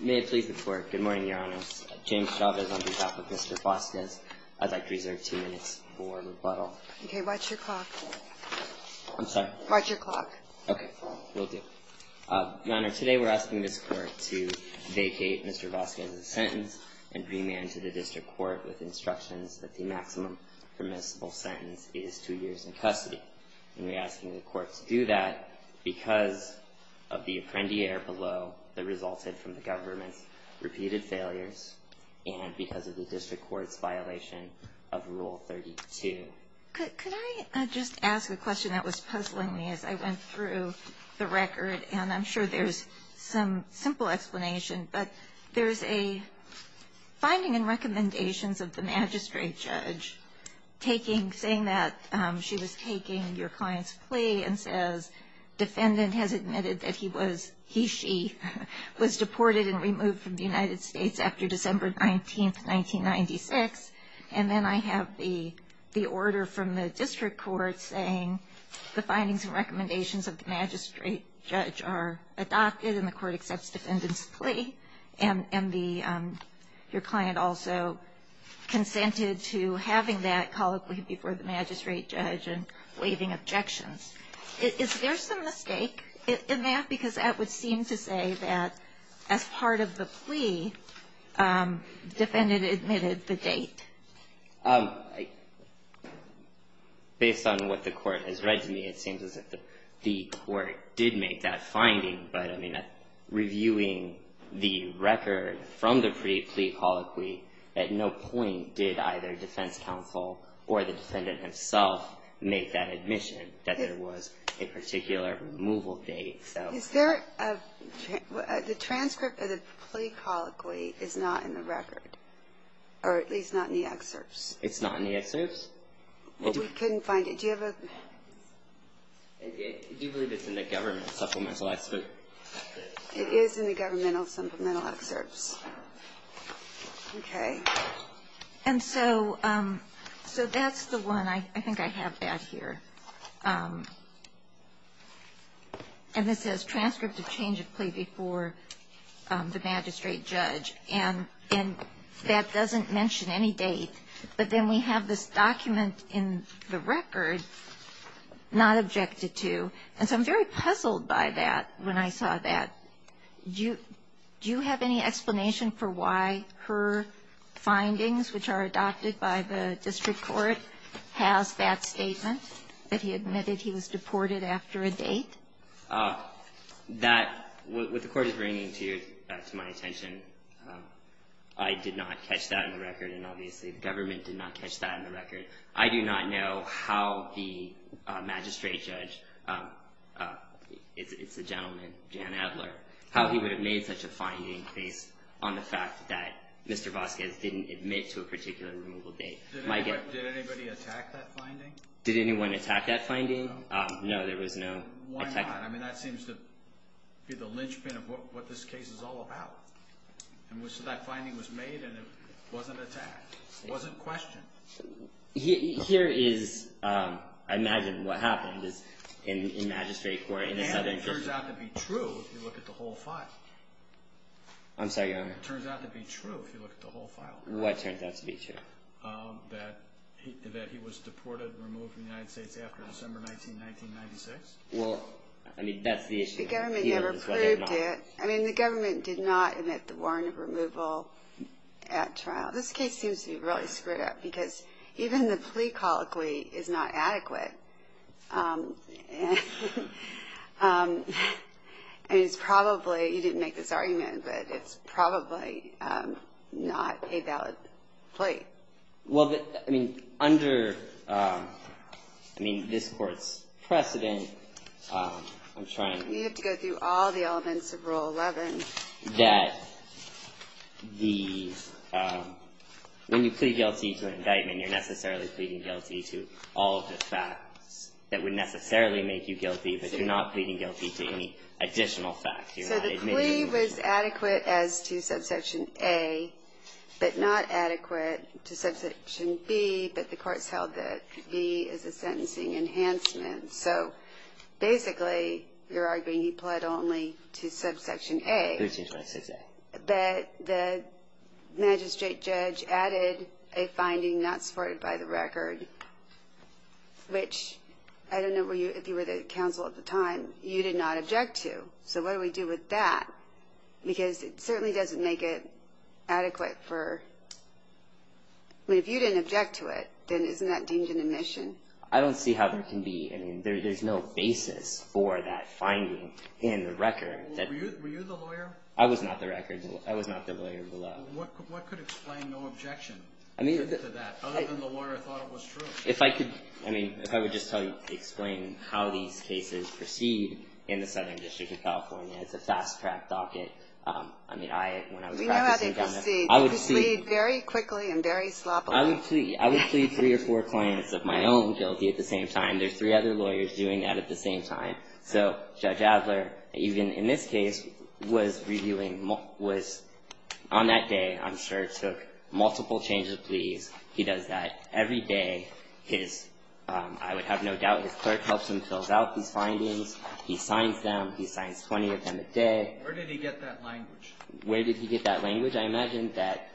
May it please the Court, good morning, Your Honor. James Chavez on behalf of Mr. Vazquez. I'd like to reserve two minutes for rebuttal. Okay, watch your clock. I'm sorry? Watch your clock. Okay, will do. Your Honor, today we're asking this Court to vacate Mr. Vazquez's sentence and remand to the District Court with instructions that the maximum permissible sentence is two years in custody. And we're asking the Court to do that because of the apprendiare below that resulted from the government's repeated failures and because of the District Court's violation of Rule 32. Could I just ask a question that was puzzling me as I went through the record? And I'm sure there's some simple explanation, but there's a finding in recommendations of the magistrate judge taking, saying that she was taking your client's plea and says defendant has admitted that he was, he, she, was deported and removed from the United States after December 19, 1996. And then I have the order from the District Court saying the findings and recommendations of the magistrate judge are adopted and the Court accepts defendant's plea. And the, your client also consented to having that colloquy before the magistrate judge and waiving objections. Is there some mistake in that? Because that would seem to say that as part of the plea, defendant admitted the date. Based on what the Court has read to me, it seems as if the Court did make that finding. But, I mean, reviewing the record from the plea colloquy, at no point did either defense counsel or the defendant himself make that admission that there was a particular removal date. I don't think so. Is there a, the transcript of the plea colloquy is not in the record, or at least not in the excerpts? It's not in the excerpts? We couldn't find it. Do you have a? Do you believe it's in the government supplemental excerpt? It is in the governmental supplemental excerpts. Okay. And so, so that's the one. I think I have that here. And this says transcript of change of plea before the magistrate judge. And that doesn't mention any date. But then we have this document in the record not objected to. And so I'm very puzzled by that when I saw that. Do you have any explanation for why her findings, which are adopted by the district court, has that statement, that he admitted he was deported after a date? That, what the Court is bringing to my attention, I did not catch that in the record, and obviously the government did not catch that in the record. I do not know how the magistrate judge, it's a gentleman, Jan Adler, how he would have made such a finding based on the fact that Mr. Vasquez didn't admit to a particular removal date. Did anybody attack that finding? Did anyone attack that finding? No. No, there was no attack. Why not? I mean, that seems to be the linchpin of what this case is all about. And so that finding was made, and it wasn't attacked. It wasn't questioned. Here is, I imagine what happened in the magistrate court in the Southern District. It turns out to be true if you look at the whole file. I'm sorry, Your Honor. It turns out to be true if you look at the whole file. What turns out to be true? That he was deported and removed from the United States after December 19, 1996. Well, I mean, that's the issue. The government never proved it. I mean, the government did not admit the warrant of removal at trial. Well, this case seems to be really screwed up because even the plea colloquy is not adequate. I mean, it's probably, you didn't make this argument, but it's probably not a valid plea. Well, I mean, under, I mean, this court's precedent, I'm trying to... You have to go through all the elements of Rule 11. That the, when you plead guilty to an indictment, you're necessarily pleading guilty to all of the facts that would necessarily make you guilty, but you're not pleading guilty to any additional facts. You're not admitting... So the plea was adequate as to Subsection A, but not adequate to Subsection B, but the court's held that B is a sentencing enhancement. So basically, you're arguing he pled only to Subsection A. 1326A. But the magistrate judge added a finding not supported by the record, which I don't know if you were the counsel at the time, you did not object to. So what do we do with that? Because it certainly doesn't make it adequate for... I mean, if you didn't object to it, then isn't that deemed an admission? I don't see how there can be... I mean, there's no basis for that finding in the record. Were you the lawyer? I was not the lawyer below. Well, what could explain no objection to that, other than the lawyer thought it was true? If I could... I mean, if I would just explain how these cases proceed in the Southern District of California. It's a fast-track docket. I mean, I... We know how they proceed. I would plead... They proceed very quickly and very sloppily. I would plead three or four clients of my own guilty at the same time. There's three other lawyers doing that at the same time. So Judge Adler, even in this case, was reviewing, was on that day, I'm sure, took multiple changes of pleas. He does that every day. His... I would have no doubt his clerk helps him fill out these findings. He signs them. He signs 20 of them a day. Where did he get that language? Where did he get that language? I imagine that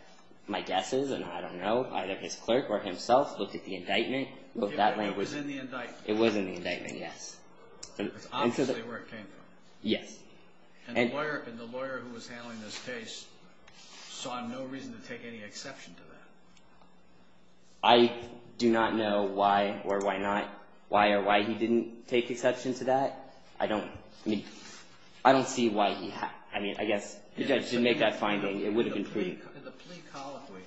my guess is, and I don't know, either his clerk or himself looked at the indictment, looked at that language. It was in the indictment. It was in the indictment, yes. That's obviously where it came from. Yes. And the lawyer who was handling this case saw no reason to take any exception to that. I do not know why or why not, why or why he didn't take exception to that. I don't... I mean, I don't see why he... I mean, I guess... The judge didn't make that finding. It would have been... In the plea colloquy,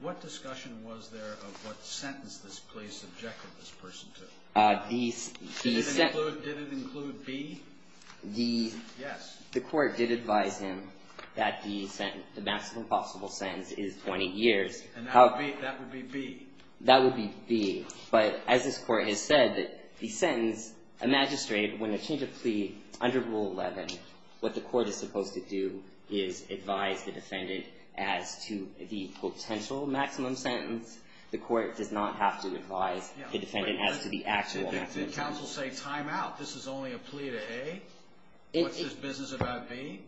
what discussion was there of what sentence this plea subjected this person to? The... Did it include... Did it include B? The... Yes. The court did advise him that the maximum possible sentence is 20 years. And that would be... That would be B. That would be B. But as this Court has said, the sentence, a magistrate, when a change of plea, under Rule 11, what the court is supposed to do is advise the defendant as to the potential maximum sentence. The court does not have to advise the defendant as to the actual maximum. Did counsel say, time out, this is only a plea to A? What's this business about B?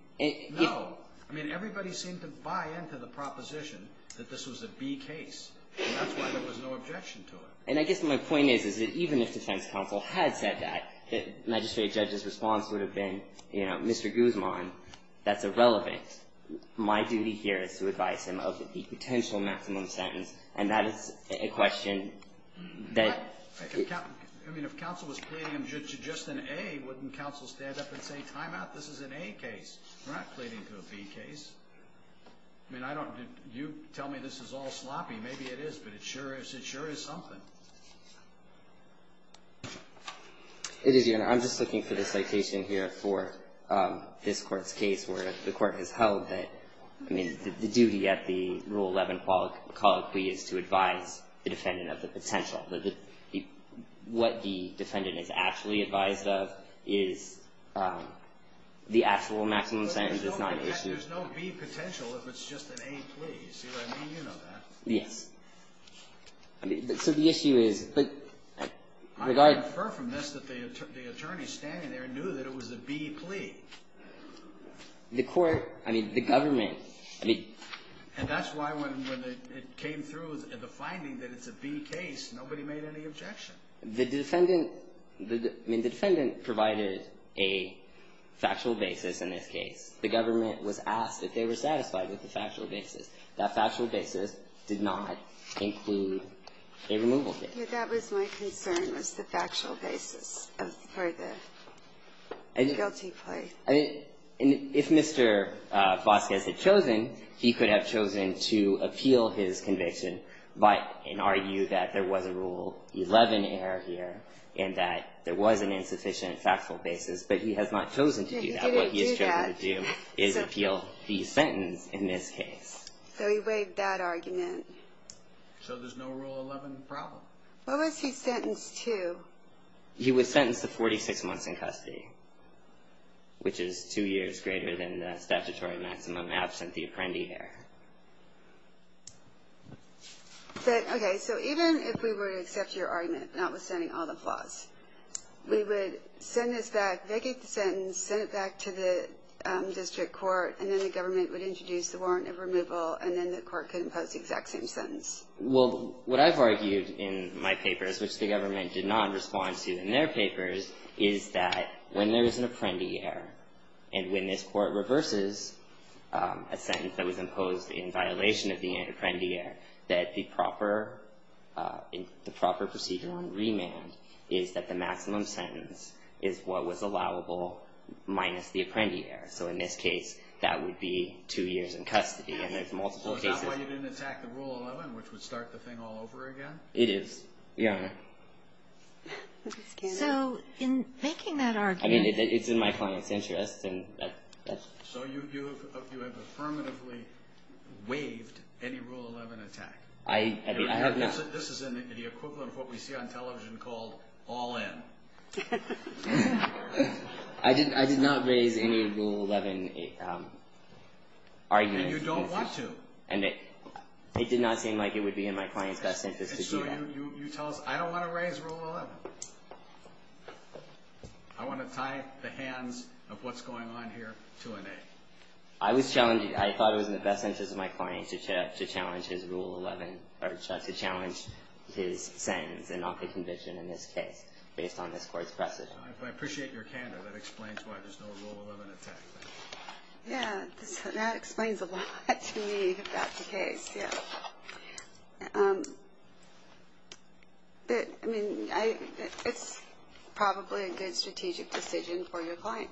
No. I mean, everybody seemed to buy into the proposition that this was a B case. And that's why there was no objection to it. And I guess my point is, is that even if defense counsel had said that, the magistrate judge's response would have been, you know, Mr. Guzman, that's irrelevant. My duty here is to advise him of the potential maximum sentence. And that is a question that... I mean, if counsel was pleading him to just an A, wouldn't counsel stand up and say, time out, this is an A case? We're not pleading to a B case. I mean, I don't... You tell me this is all sloppy. Maybe it is, but it sure is. It sure is something. It is, Your Honor. I'm just looking for the citation here for this court's case where the court has held that... I mean, the duty at the Rule 11 colloquy is to advise the defendant of the potential. What the defendant is actually advised of is the actual maximum sentence. There's no B potential if it's just an A plea. See what I mean? You know that. Yes. So the issue is... I infer from this that the attorney standing there knew that it was a B plea. The court... I mean, the government... I mean... And that's why when it came through, the finding that it's a B case, nobody made any objection. The defendant... I mean, the defendant provided a factual basis in this case. The government was asked if they were satisfied with the factual basis. That factual basis did not include a removal case. That was my concern, was the factual basis for the guilty plea. I mean, if Mr. Vasquez had chosen, he could have chosen to appeal his conviction by and argue that there was a Rule 11 error here and that there was an insufficient factual basis, but he has not chosen to do that. He didn't do that. His argument is appeal the sentence in this case. So he waived that argument. So there's no Rule 11 problem. What was he sentenced to? He was sentenced to 46 months in custody, which is two years greater than the statutory maximum absent the apprendee there. Okay. So even if we were to accept your argument, notwithstanding all the flaws, we would send this back, vacate the sentence, send it back to the district court, and then the government would introduce the warrant of removal, and then the court could impose the exact same sentence. Well, what I've argued in my papers, which the government did not respond to in their papers, is that when there is an apprendee error and when this court reverses a sentence that was imposed in violation of the apprendee error, that the proper procedure on remand is that the maximum sentence is what was allowable minus the apprendee error. So in this case, that would be two years in custody. And there's multiple cases. Well, is that why you didn't attack the Rule 11, which would start the thing all over again? It is, Your Honor. So in making that argument. I mean, it's in my client's interest. So you have affirmatively waived any Rule 11 attack. This is in the equivalent of what we see on television called all in. I did not raise any Rule 11 argument. And you don't want to. And it did not seem like it would be in my client's best interest to do that. So you tell us, I don't want to raise Rule 11. I want to tie the hands of what's going on here to an 8. I thought it was in the best interest of my client to challenge his sentence and not the conviction in this case based on this Court's precedent. I appreciate your candor. That explains why there's no Rule 11 attack. Yeah, that explains a lot to me about the case. I mean, it's probably a good strategic decision for your client.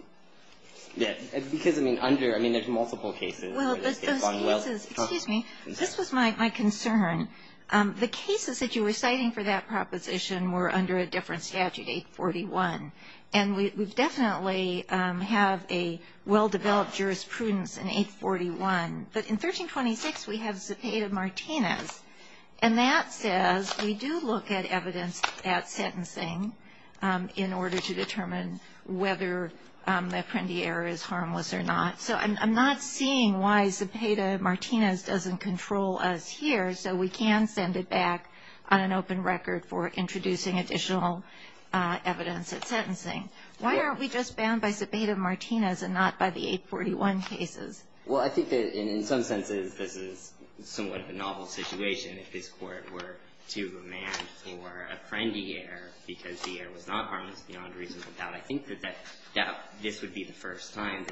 Because, I mean, under, I mean, there's multiple cases. Well, those cases, excuse me. This was my concern. The cases that you were citing for that proposition were under a different statute, 841. And we definitely have a well-developed jurisprudence in 841. But in 1326, we have Cepeda-Martinez. And that says we do look at evidence at sentencing in order to determine whether the apprendee error is harmless or not. So I'm not seeing why Cepeda-Martinez doesn't control us here so we can send it back on an open record for introducing additional evidence at sentencing. Why aren't we just bound by Cepeda-Martinez and not by the 841 cases? Well, I think that in some senses, this is somewhat of a novel situation if this Court were to remand for apprendee error because the error was not harmless beyond reasonable doubt. I think that this would be the first time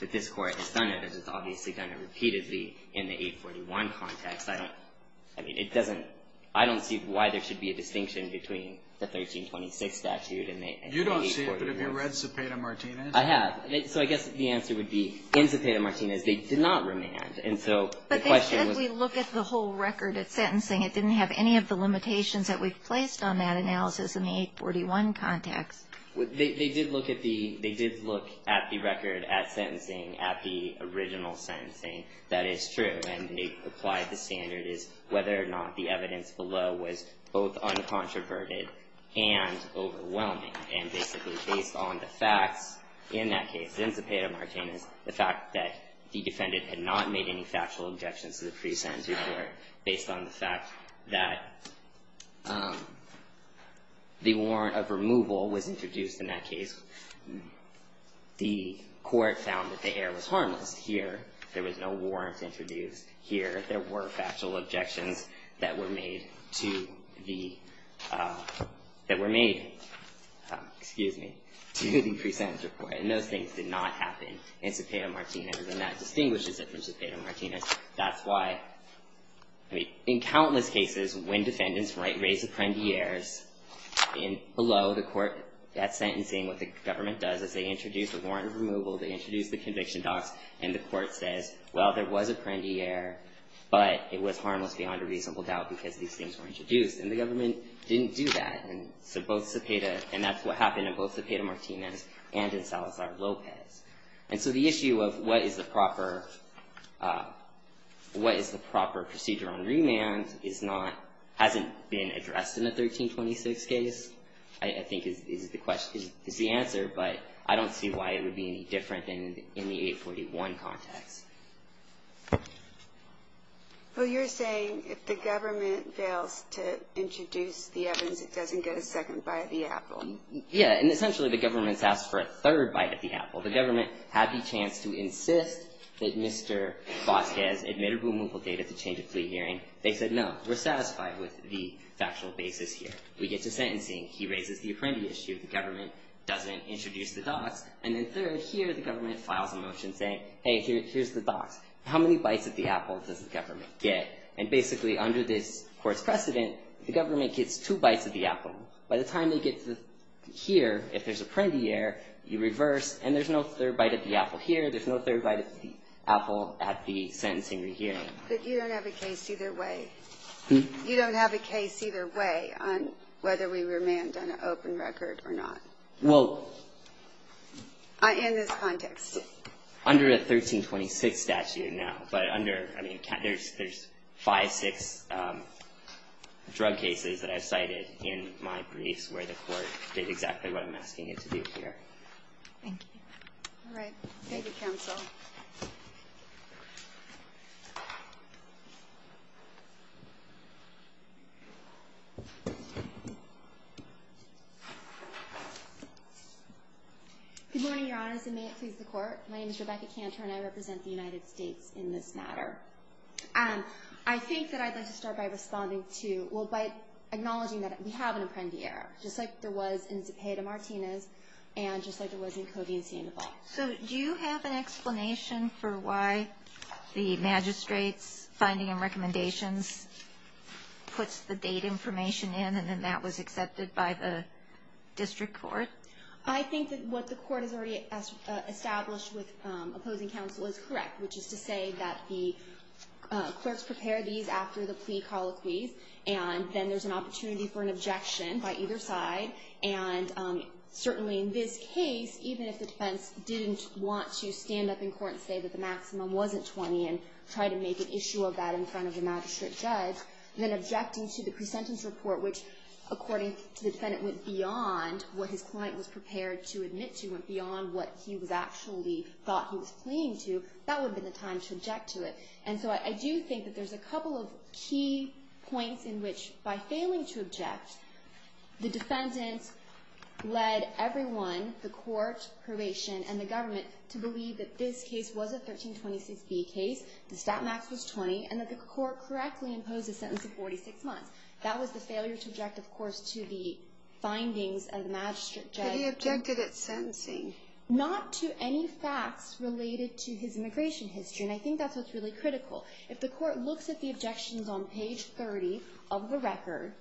that this Court has done it, as it's obviously done it repeatedly in the 841 context. I don't, I mean, it doesn't, I don't see why there should be a distinction between the 1326 statute and the 841. You don't see it, but have you read Cepeda-Martinez? I have. So I guess the answer would be, in Cepeda-Martinez, they did not remand. And so the question was But they said we look at the whole record at sentencing. It didn't have any of the limitations that we've placed on that analysis in the 841 context. They did look at the record at sentencing, at the original sentencing. That is true. And they applied the standard as whether or not the evidence below was both uncontroverted and overwhelming. And basically, based on the facts in that case, in Cepeda-Martinez, the fact that the defendant had not made any factual objections to the pre-sentence report, based on the fact that the warrant of removal was introduced in that case, the Court found that the error was harmless. Here, there was no warrant introduced. Here, there were factual objections that were made to the, that were made, excuse me, to the pre-sentence report. And those things did not happen in Cepeda-Martinez. And that distinguishes it from Cepeda-Martinez. That's why, I mean, in countless cases, when defendants raise apprendiers, below the court at sentencing, what the government does is they introduce a warrant of removal. They introduce the conviction docs. And the Court says, well, there was apprendier, but it was harmless beyond a reasonable doubt because these things were introduced. And the government didn't do that. And so both Cepeda, and that's what happened in both Cepeda-Martinez and in Salazar-Lopez. And so the issue of what is the proper, what is the proper procedure on remand is not, hasn't been addressed in the 1326 case, I think is the question, is the answer. But I don't see why it would be any different in the 841 context. Well, you're saying if the government fails to introduce the evidence, it doesn't get a second bite at the apple. Yeah, and essentially the government's asked for a third bite at the apple. The government had the chance to insist that Mr. Vasquez admitted removal date at the change of plea hearing. They said, no, we're satisfied with the factual basis here. We get to sentencing. He raises the apprendi issue. The government doesn't introduce the docs. And then third, here the government files a motion saying, hey, here's the docs. How many bites at the apple does the government get? And basically under this court's precedent, the government gets two bites at the apple. By the time they get to here, if there's apprendi here, you reverse, and there's no third bite at the apple here. There's no third bite at the apple at the sentencing or hearing. But you don't have a case either way. You don't have a case either way on whether we remand on an open record or not. Well, in this context. Under a 1326 statute now, but under, I mean, there's five, six drug cases that I've cited in my briefs where the court did exactly what I'm asking it to do here. Thank you. All right. Thank you, counsel. Good morning, Your Honors, and may it please the court. My name is Rebecca Cantor, and I represent the United States in this matter. I think that I'd like to start by responding to, well, by acknowledging that we have an apprendi error, just like there was in Zepeda-Martinez and just like there was in Covey and Sainte-Evelle. So do you have an explanation for why the magistrate's finding and recommendations puts the date information in and then that was accepted by the district court? I think that what the court has already established with opposing counsel is correct, which is to say that the clerks prepare these after the plea colloquies, and then there's an opportunity for an objection by either side. And certainly in this case, even if the defense didn't want to stand up in court and say that the maximum wasn't 20 and try to make an issue of that in front of the magistrate judge, then objecting to the presentence report, which, according to the defendant, went beyond what his client was prepared to admit to, went beyond what he actually thought he was pleading to, that would have been the time to object to it. And so I do think that there's a couple of key points in which, by failing to object, the defendant led everyone, the court, probation, and the government, to believe that this case was a 1326B case, the stat max was 20, and that the court correctly imposed a sentence of 46 months. That was the failure to object, of course, to the findings of the magistrate judge. Had he objected at sentencing? Not to any facts related to his immigration history, and I think that's what's really critical. If the court looks at the objections on page 30 of the record,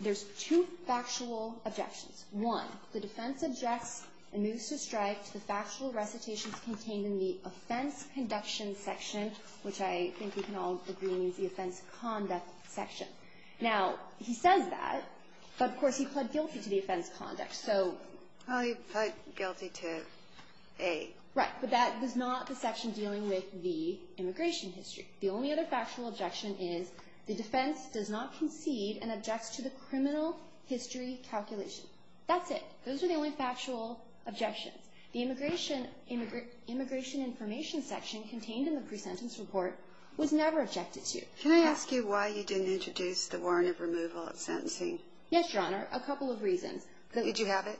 there's two factual objections. One, the defense objects, and moves to strike, to the factual recitations contained in the offense conduction section, which I think we can all agree means the offense conduct section. Now, he says that, but, of course, he pled guilty to the offense conduct. So he pled guilty to A. Right. But that was not the section dealing with the immigration history. The only other factual objection is the defense does not concede and objects to the criminal history calculation. That's it. Those are the only factual objections. The immigration information section contained in the pre-sentence report was never objected to. Can I ask you why you didn't introduce the warrant of removal at sentencing? Yes, Your Honor, a couple of reasons. Did you have it?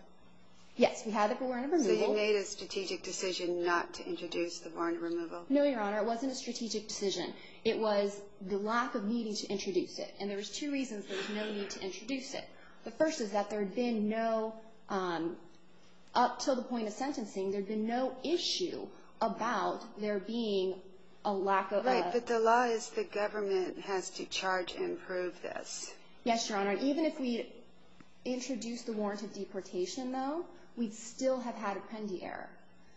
Yes, we had the warrant of removal. So you made a strategic decision not to introduce the warrant of removal? No, Your Honor, it wasn't a strategic decision. It was the lack of needing to introduce it, and there was two reasons there was no need to introduce it. The first is that there had been no up to the point of sentencing, there had been no issue about there being a lack of a ---- Right. But the law is the government has to charge and prove this. Yes, Your Honor. Even if we introduced the warrant of deportation, though, we'd still have had appendia error.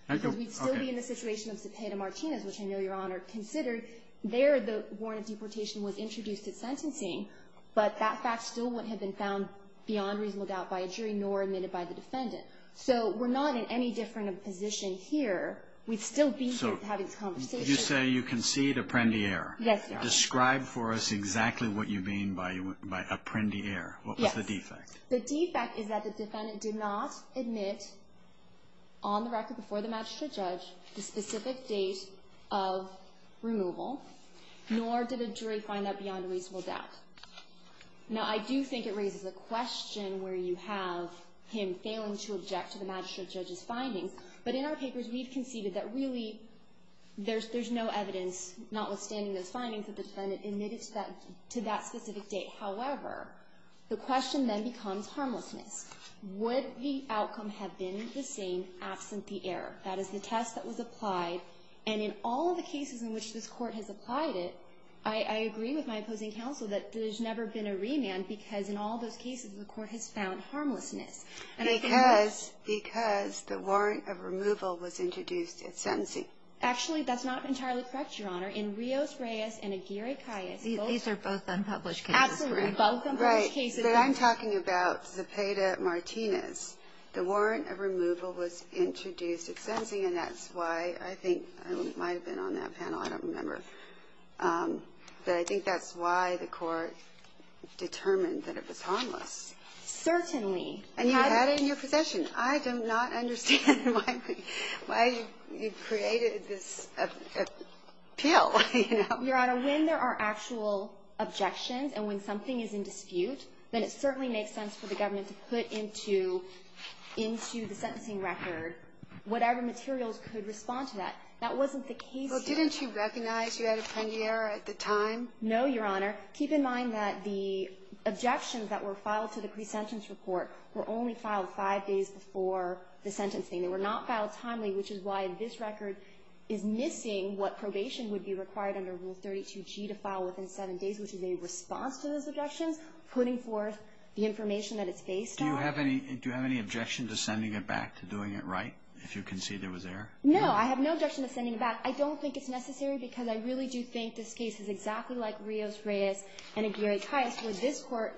Okay. Because we'd still be in the situation of Cepeda Martinez, which I know Your Honor considered. There, the warrant of deportation was introduced at sentencing, but that fact still wouldn't have been found beyond reasonable doubt by a jury nor admitted by the defendant. So we're not in any different position here. We'd still be having conversations. So did you say you concede appendia error? Yes, Your Honor. Describe for us exactly what you mean by appendia error. Yes. What was the defect? The defect is that the defendant did not admit on the record before the magistrate judge the specific date of removal, nor did a jury find that beyond reasonable doubt. Now, I do think it raises a question where you have him failing to object to the magistrate judge's findings. But in our papers, we've conceded that really there's no evidence, notwithstanding those findings, that the defendant admitted to that specific date. However, the question then becomes harmlessness. Would the outcome have been the same absent the error? That is the test that was applied. And in all of the cases in which this Court has applied it, I agree with my opposing counsel that there's never been a remand because in all those cases the Court has found harmlessness. Because the warrant of removal was introduced at sentencing. Actually, that's not entirely correct, Your Honor. In Rios-Reyes and Aguirre-Calles, both unpublished cases. Absolutely, both unpublished cases. Right. But I'm talking about Zepeda-Martinez. The warrant of removal was introduced at sentencing, and that's why I think it might have been on that panel. I don't remember. But I think that's why the Court determined that it was harmless. Certainly. And you had it in your possession. I do not understand why you created this appeal, you know. Your Honor, when there are actual objections and when something is in dispute, then it certainly makes sense for the government to put into the sentencing record whatever materials could respond to that. That wasn't the case here. Well, didn't you recognize you had a pending error at the time? No, Your Honor. Keep in mind that the objections that were filed to the presentence report were only filed five days before the sentencing. They were not filed timely, which is why this record is missing what probation would be required under Rule 32G to file within seven days, which is a response to those objections, putting forth the information that it's based on. Do you have any objection to sending it back, to doing it right, if you can see there was error? No, I have no objection to sending it back. I don't think it's necessary because I really do think this case is exactly like Rios, Reyes, and Aguirre-Taylors, where this Court,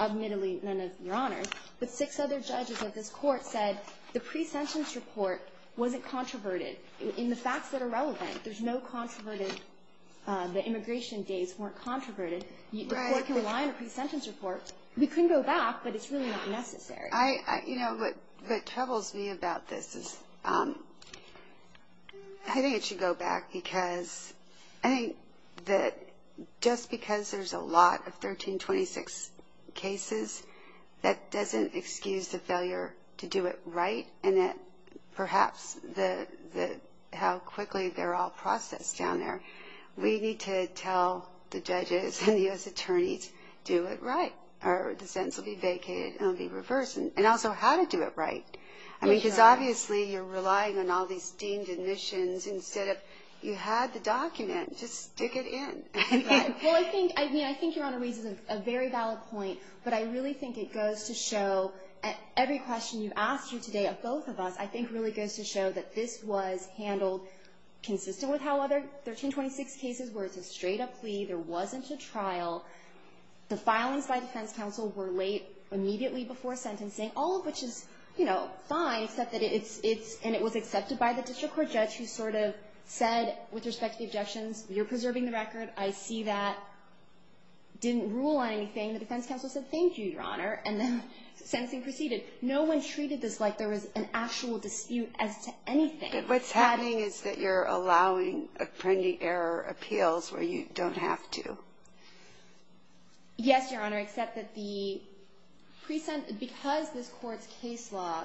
admittedly none of Your Honor, but six other judges of this Court said the presentence report wasn't controverted in the facts that are relevant. There's no controverted the immigration days weren't controverted. The Court can rely on a presentence report. We can go back, but it's really not necessary. You know, what troubles me about this is I think it should go back because I think that just because there's a lot of 1326 cases, that doesn't excuse the failure to do it right, and that perhaps how quickly they're all processed down there. We need to tell the judges and the U.S. attorneys, do it right, or the sentence will be vacated and it will be reversed, and also how to do it right. I mean, because obviously you're relying on all these deemed admissions instead of, you had the document, just stick it in. Well, I think Your Honor reads this as a very valid point, but I really think it goes to show every question you've asked here today of both of us, I think really goes to show that this was handled consistent with how other 1326 cases were. It's a straight up plea. There wasn't a trial. The filings by defense counsel were late immediately before sentencing, all of which is, you know, fine, except that it's, and it was accepted by the district court judge who sort of said, with respect to the objections, you're preserving the record. I see that. Didn't rule on anything. The defense counsel said, thank you, Your Honor, and the sentencing proceeded. No one treated this like there was an actual dispute as to anything. But what's happening is that you're allowing appending error appeals where you don't have to. Yes, Your Honor, except that the, because this court's case law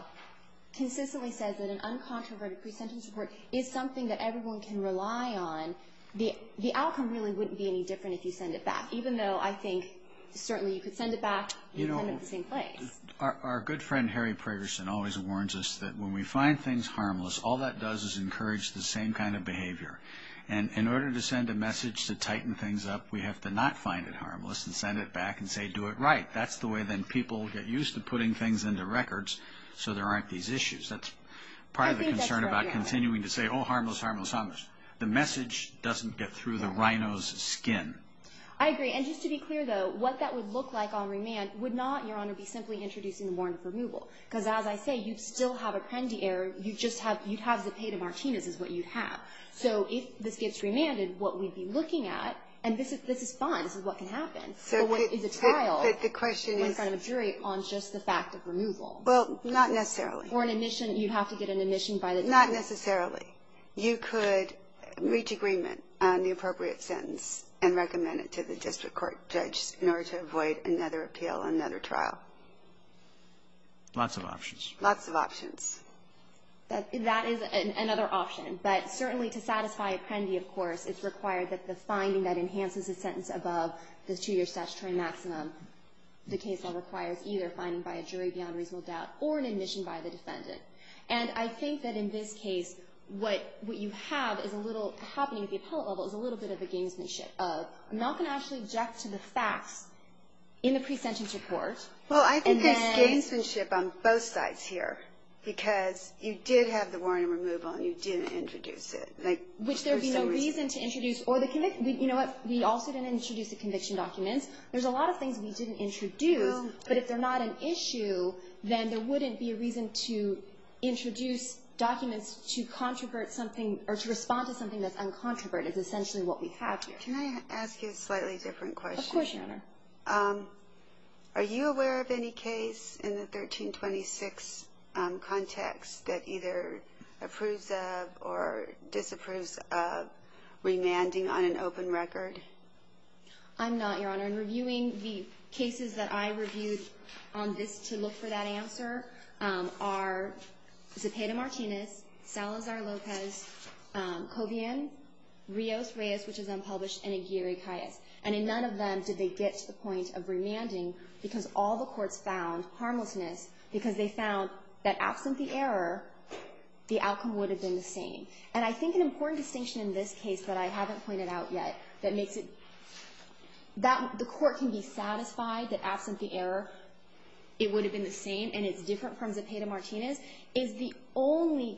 consistently says that an uncontroverted pre-sentence report is something that everyone can rely on, the outcome really wouldn't be any different if you send it back, even though I think certainly you could send it back in kind of the same place. You know, our good friend Harry Pragerson always warns us that when we find things harmless, all that does is encourage the same kind of behavior. And in order to send a message to tighten things up, we have to not find it harmless and send it back and say, do it right. That's the way then people get used to putting things into records so there aren't these issues. That's part of the concern about continuing to say, oh, harmless, harmless, harmless. The message doesn't get through the rhino's skin. I agree. And just to be clear, though, what that would look like on remand would not, Your Honor, be simply introducing the warrant for removal. Because as I say, you'd still have a pendee error. You'd have the pay to Martinez is what you'd have. So if this gets remanded, what we'd be looking at, and this is fine. This is what can happen. But what is a trial in front of a jury on just the fact of removal? Well, not necessarily. Or an admission. You'd have to get an admission by the jury. Not necessarily. You could reach agreement on the appropriate sentence and recommend it to the district court judge in order to avoid another appeal, another trial. Lots of options. Lots of options. That is another option. But certainly to satisfy a pendee, of course, it's required that the finding that enhances the sentence above the two-year statutory maximum, the case law requires either finding by a jury beyond reasonable doubt or an admission by the defendant. And I think that in this case, what you have is a little happening at the appellate level is a little bit of a gamesmanship of I'm not going to actually object to the Well, I think there's gamesmanship on both sides here. Because you did have the warrant of removal and you didn't introduce it. Which there would be no reason to introduce. You know what? We also didn't introduce the conviction documents. There's a lot of things we didn't introduce. But if they're not an issue, then there wouldn't be a reason to introduce documents to respond to something that's uncontroverted is essentially what we have here. Can I ask you a slightly different question? Of course, Your Honor. Are you aware of any case in the 1326 context that either approves of or disapproves of remanding on an open record? I'm not, Your Honor. In reviewing the cases that I reviewed on this to look for that answer are Zepeda-Martinez, Salazar-Lopez, Covian, Rios-Reyes, which is unpublished, and Aguirre-Cayas. And in none of them did they get to the point of remanding because all the courts found harmlessness because they found that absent the error, the outcome would have been the same. And I think an important distinction in this case that I haven't pointed out yet that makes it that the court can be satisfied that absent the error it would have been the same and it's different from Zepeda-Martinez is the only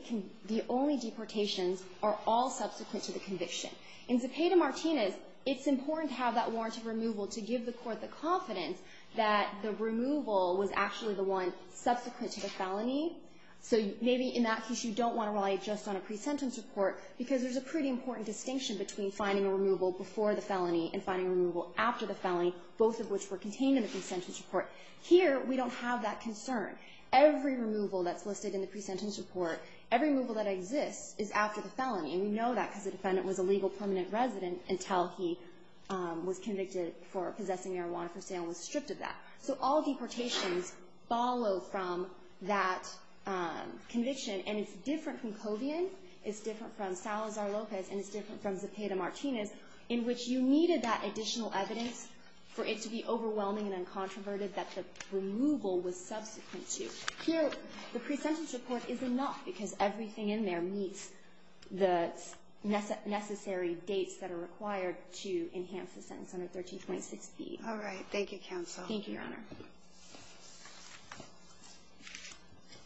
deportations are all subsequent to the conviction. In Zepeda-Martinez it's important to have that warrant of removal to give the court the confidence that the removal was actually the one subsequent to the felony. So maybe in that case you don't want to rely just on a pre-sentence report because there's a pretty important distinction between finding a removal before the felony and finding a removal after the felony, both of which were contained in the pre-sentence report. Here we don't have that concern. Every removal that's listed in the pre-sentence report, every removal that exists is after the felony. And we know that because the defendant was a legal permanent resident until he was convicted for possessing marijuana for sale and was stripped of that. So all deportations follow from that conviction. And it's different from Covian, it's different from Salazar-Lopez, and it's different from Zepeda-Martinez in which you needed that additional evidence for it to be overwhelming and uncontroverted that the removal was subsequent to. Here, the pre-sentence report is enough because everything in there meets the necessary dates that are required to enhance the sentence under 1326B. All right. Thank you, counsel. Thank you, Your Honor.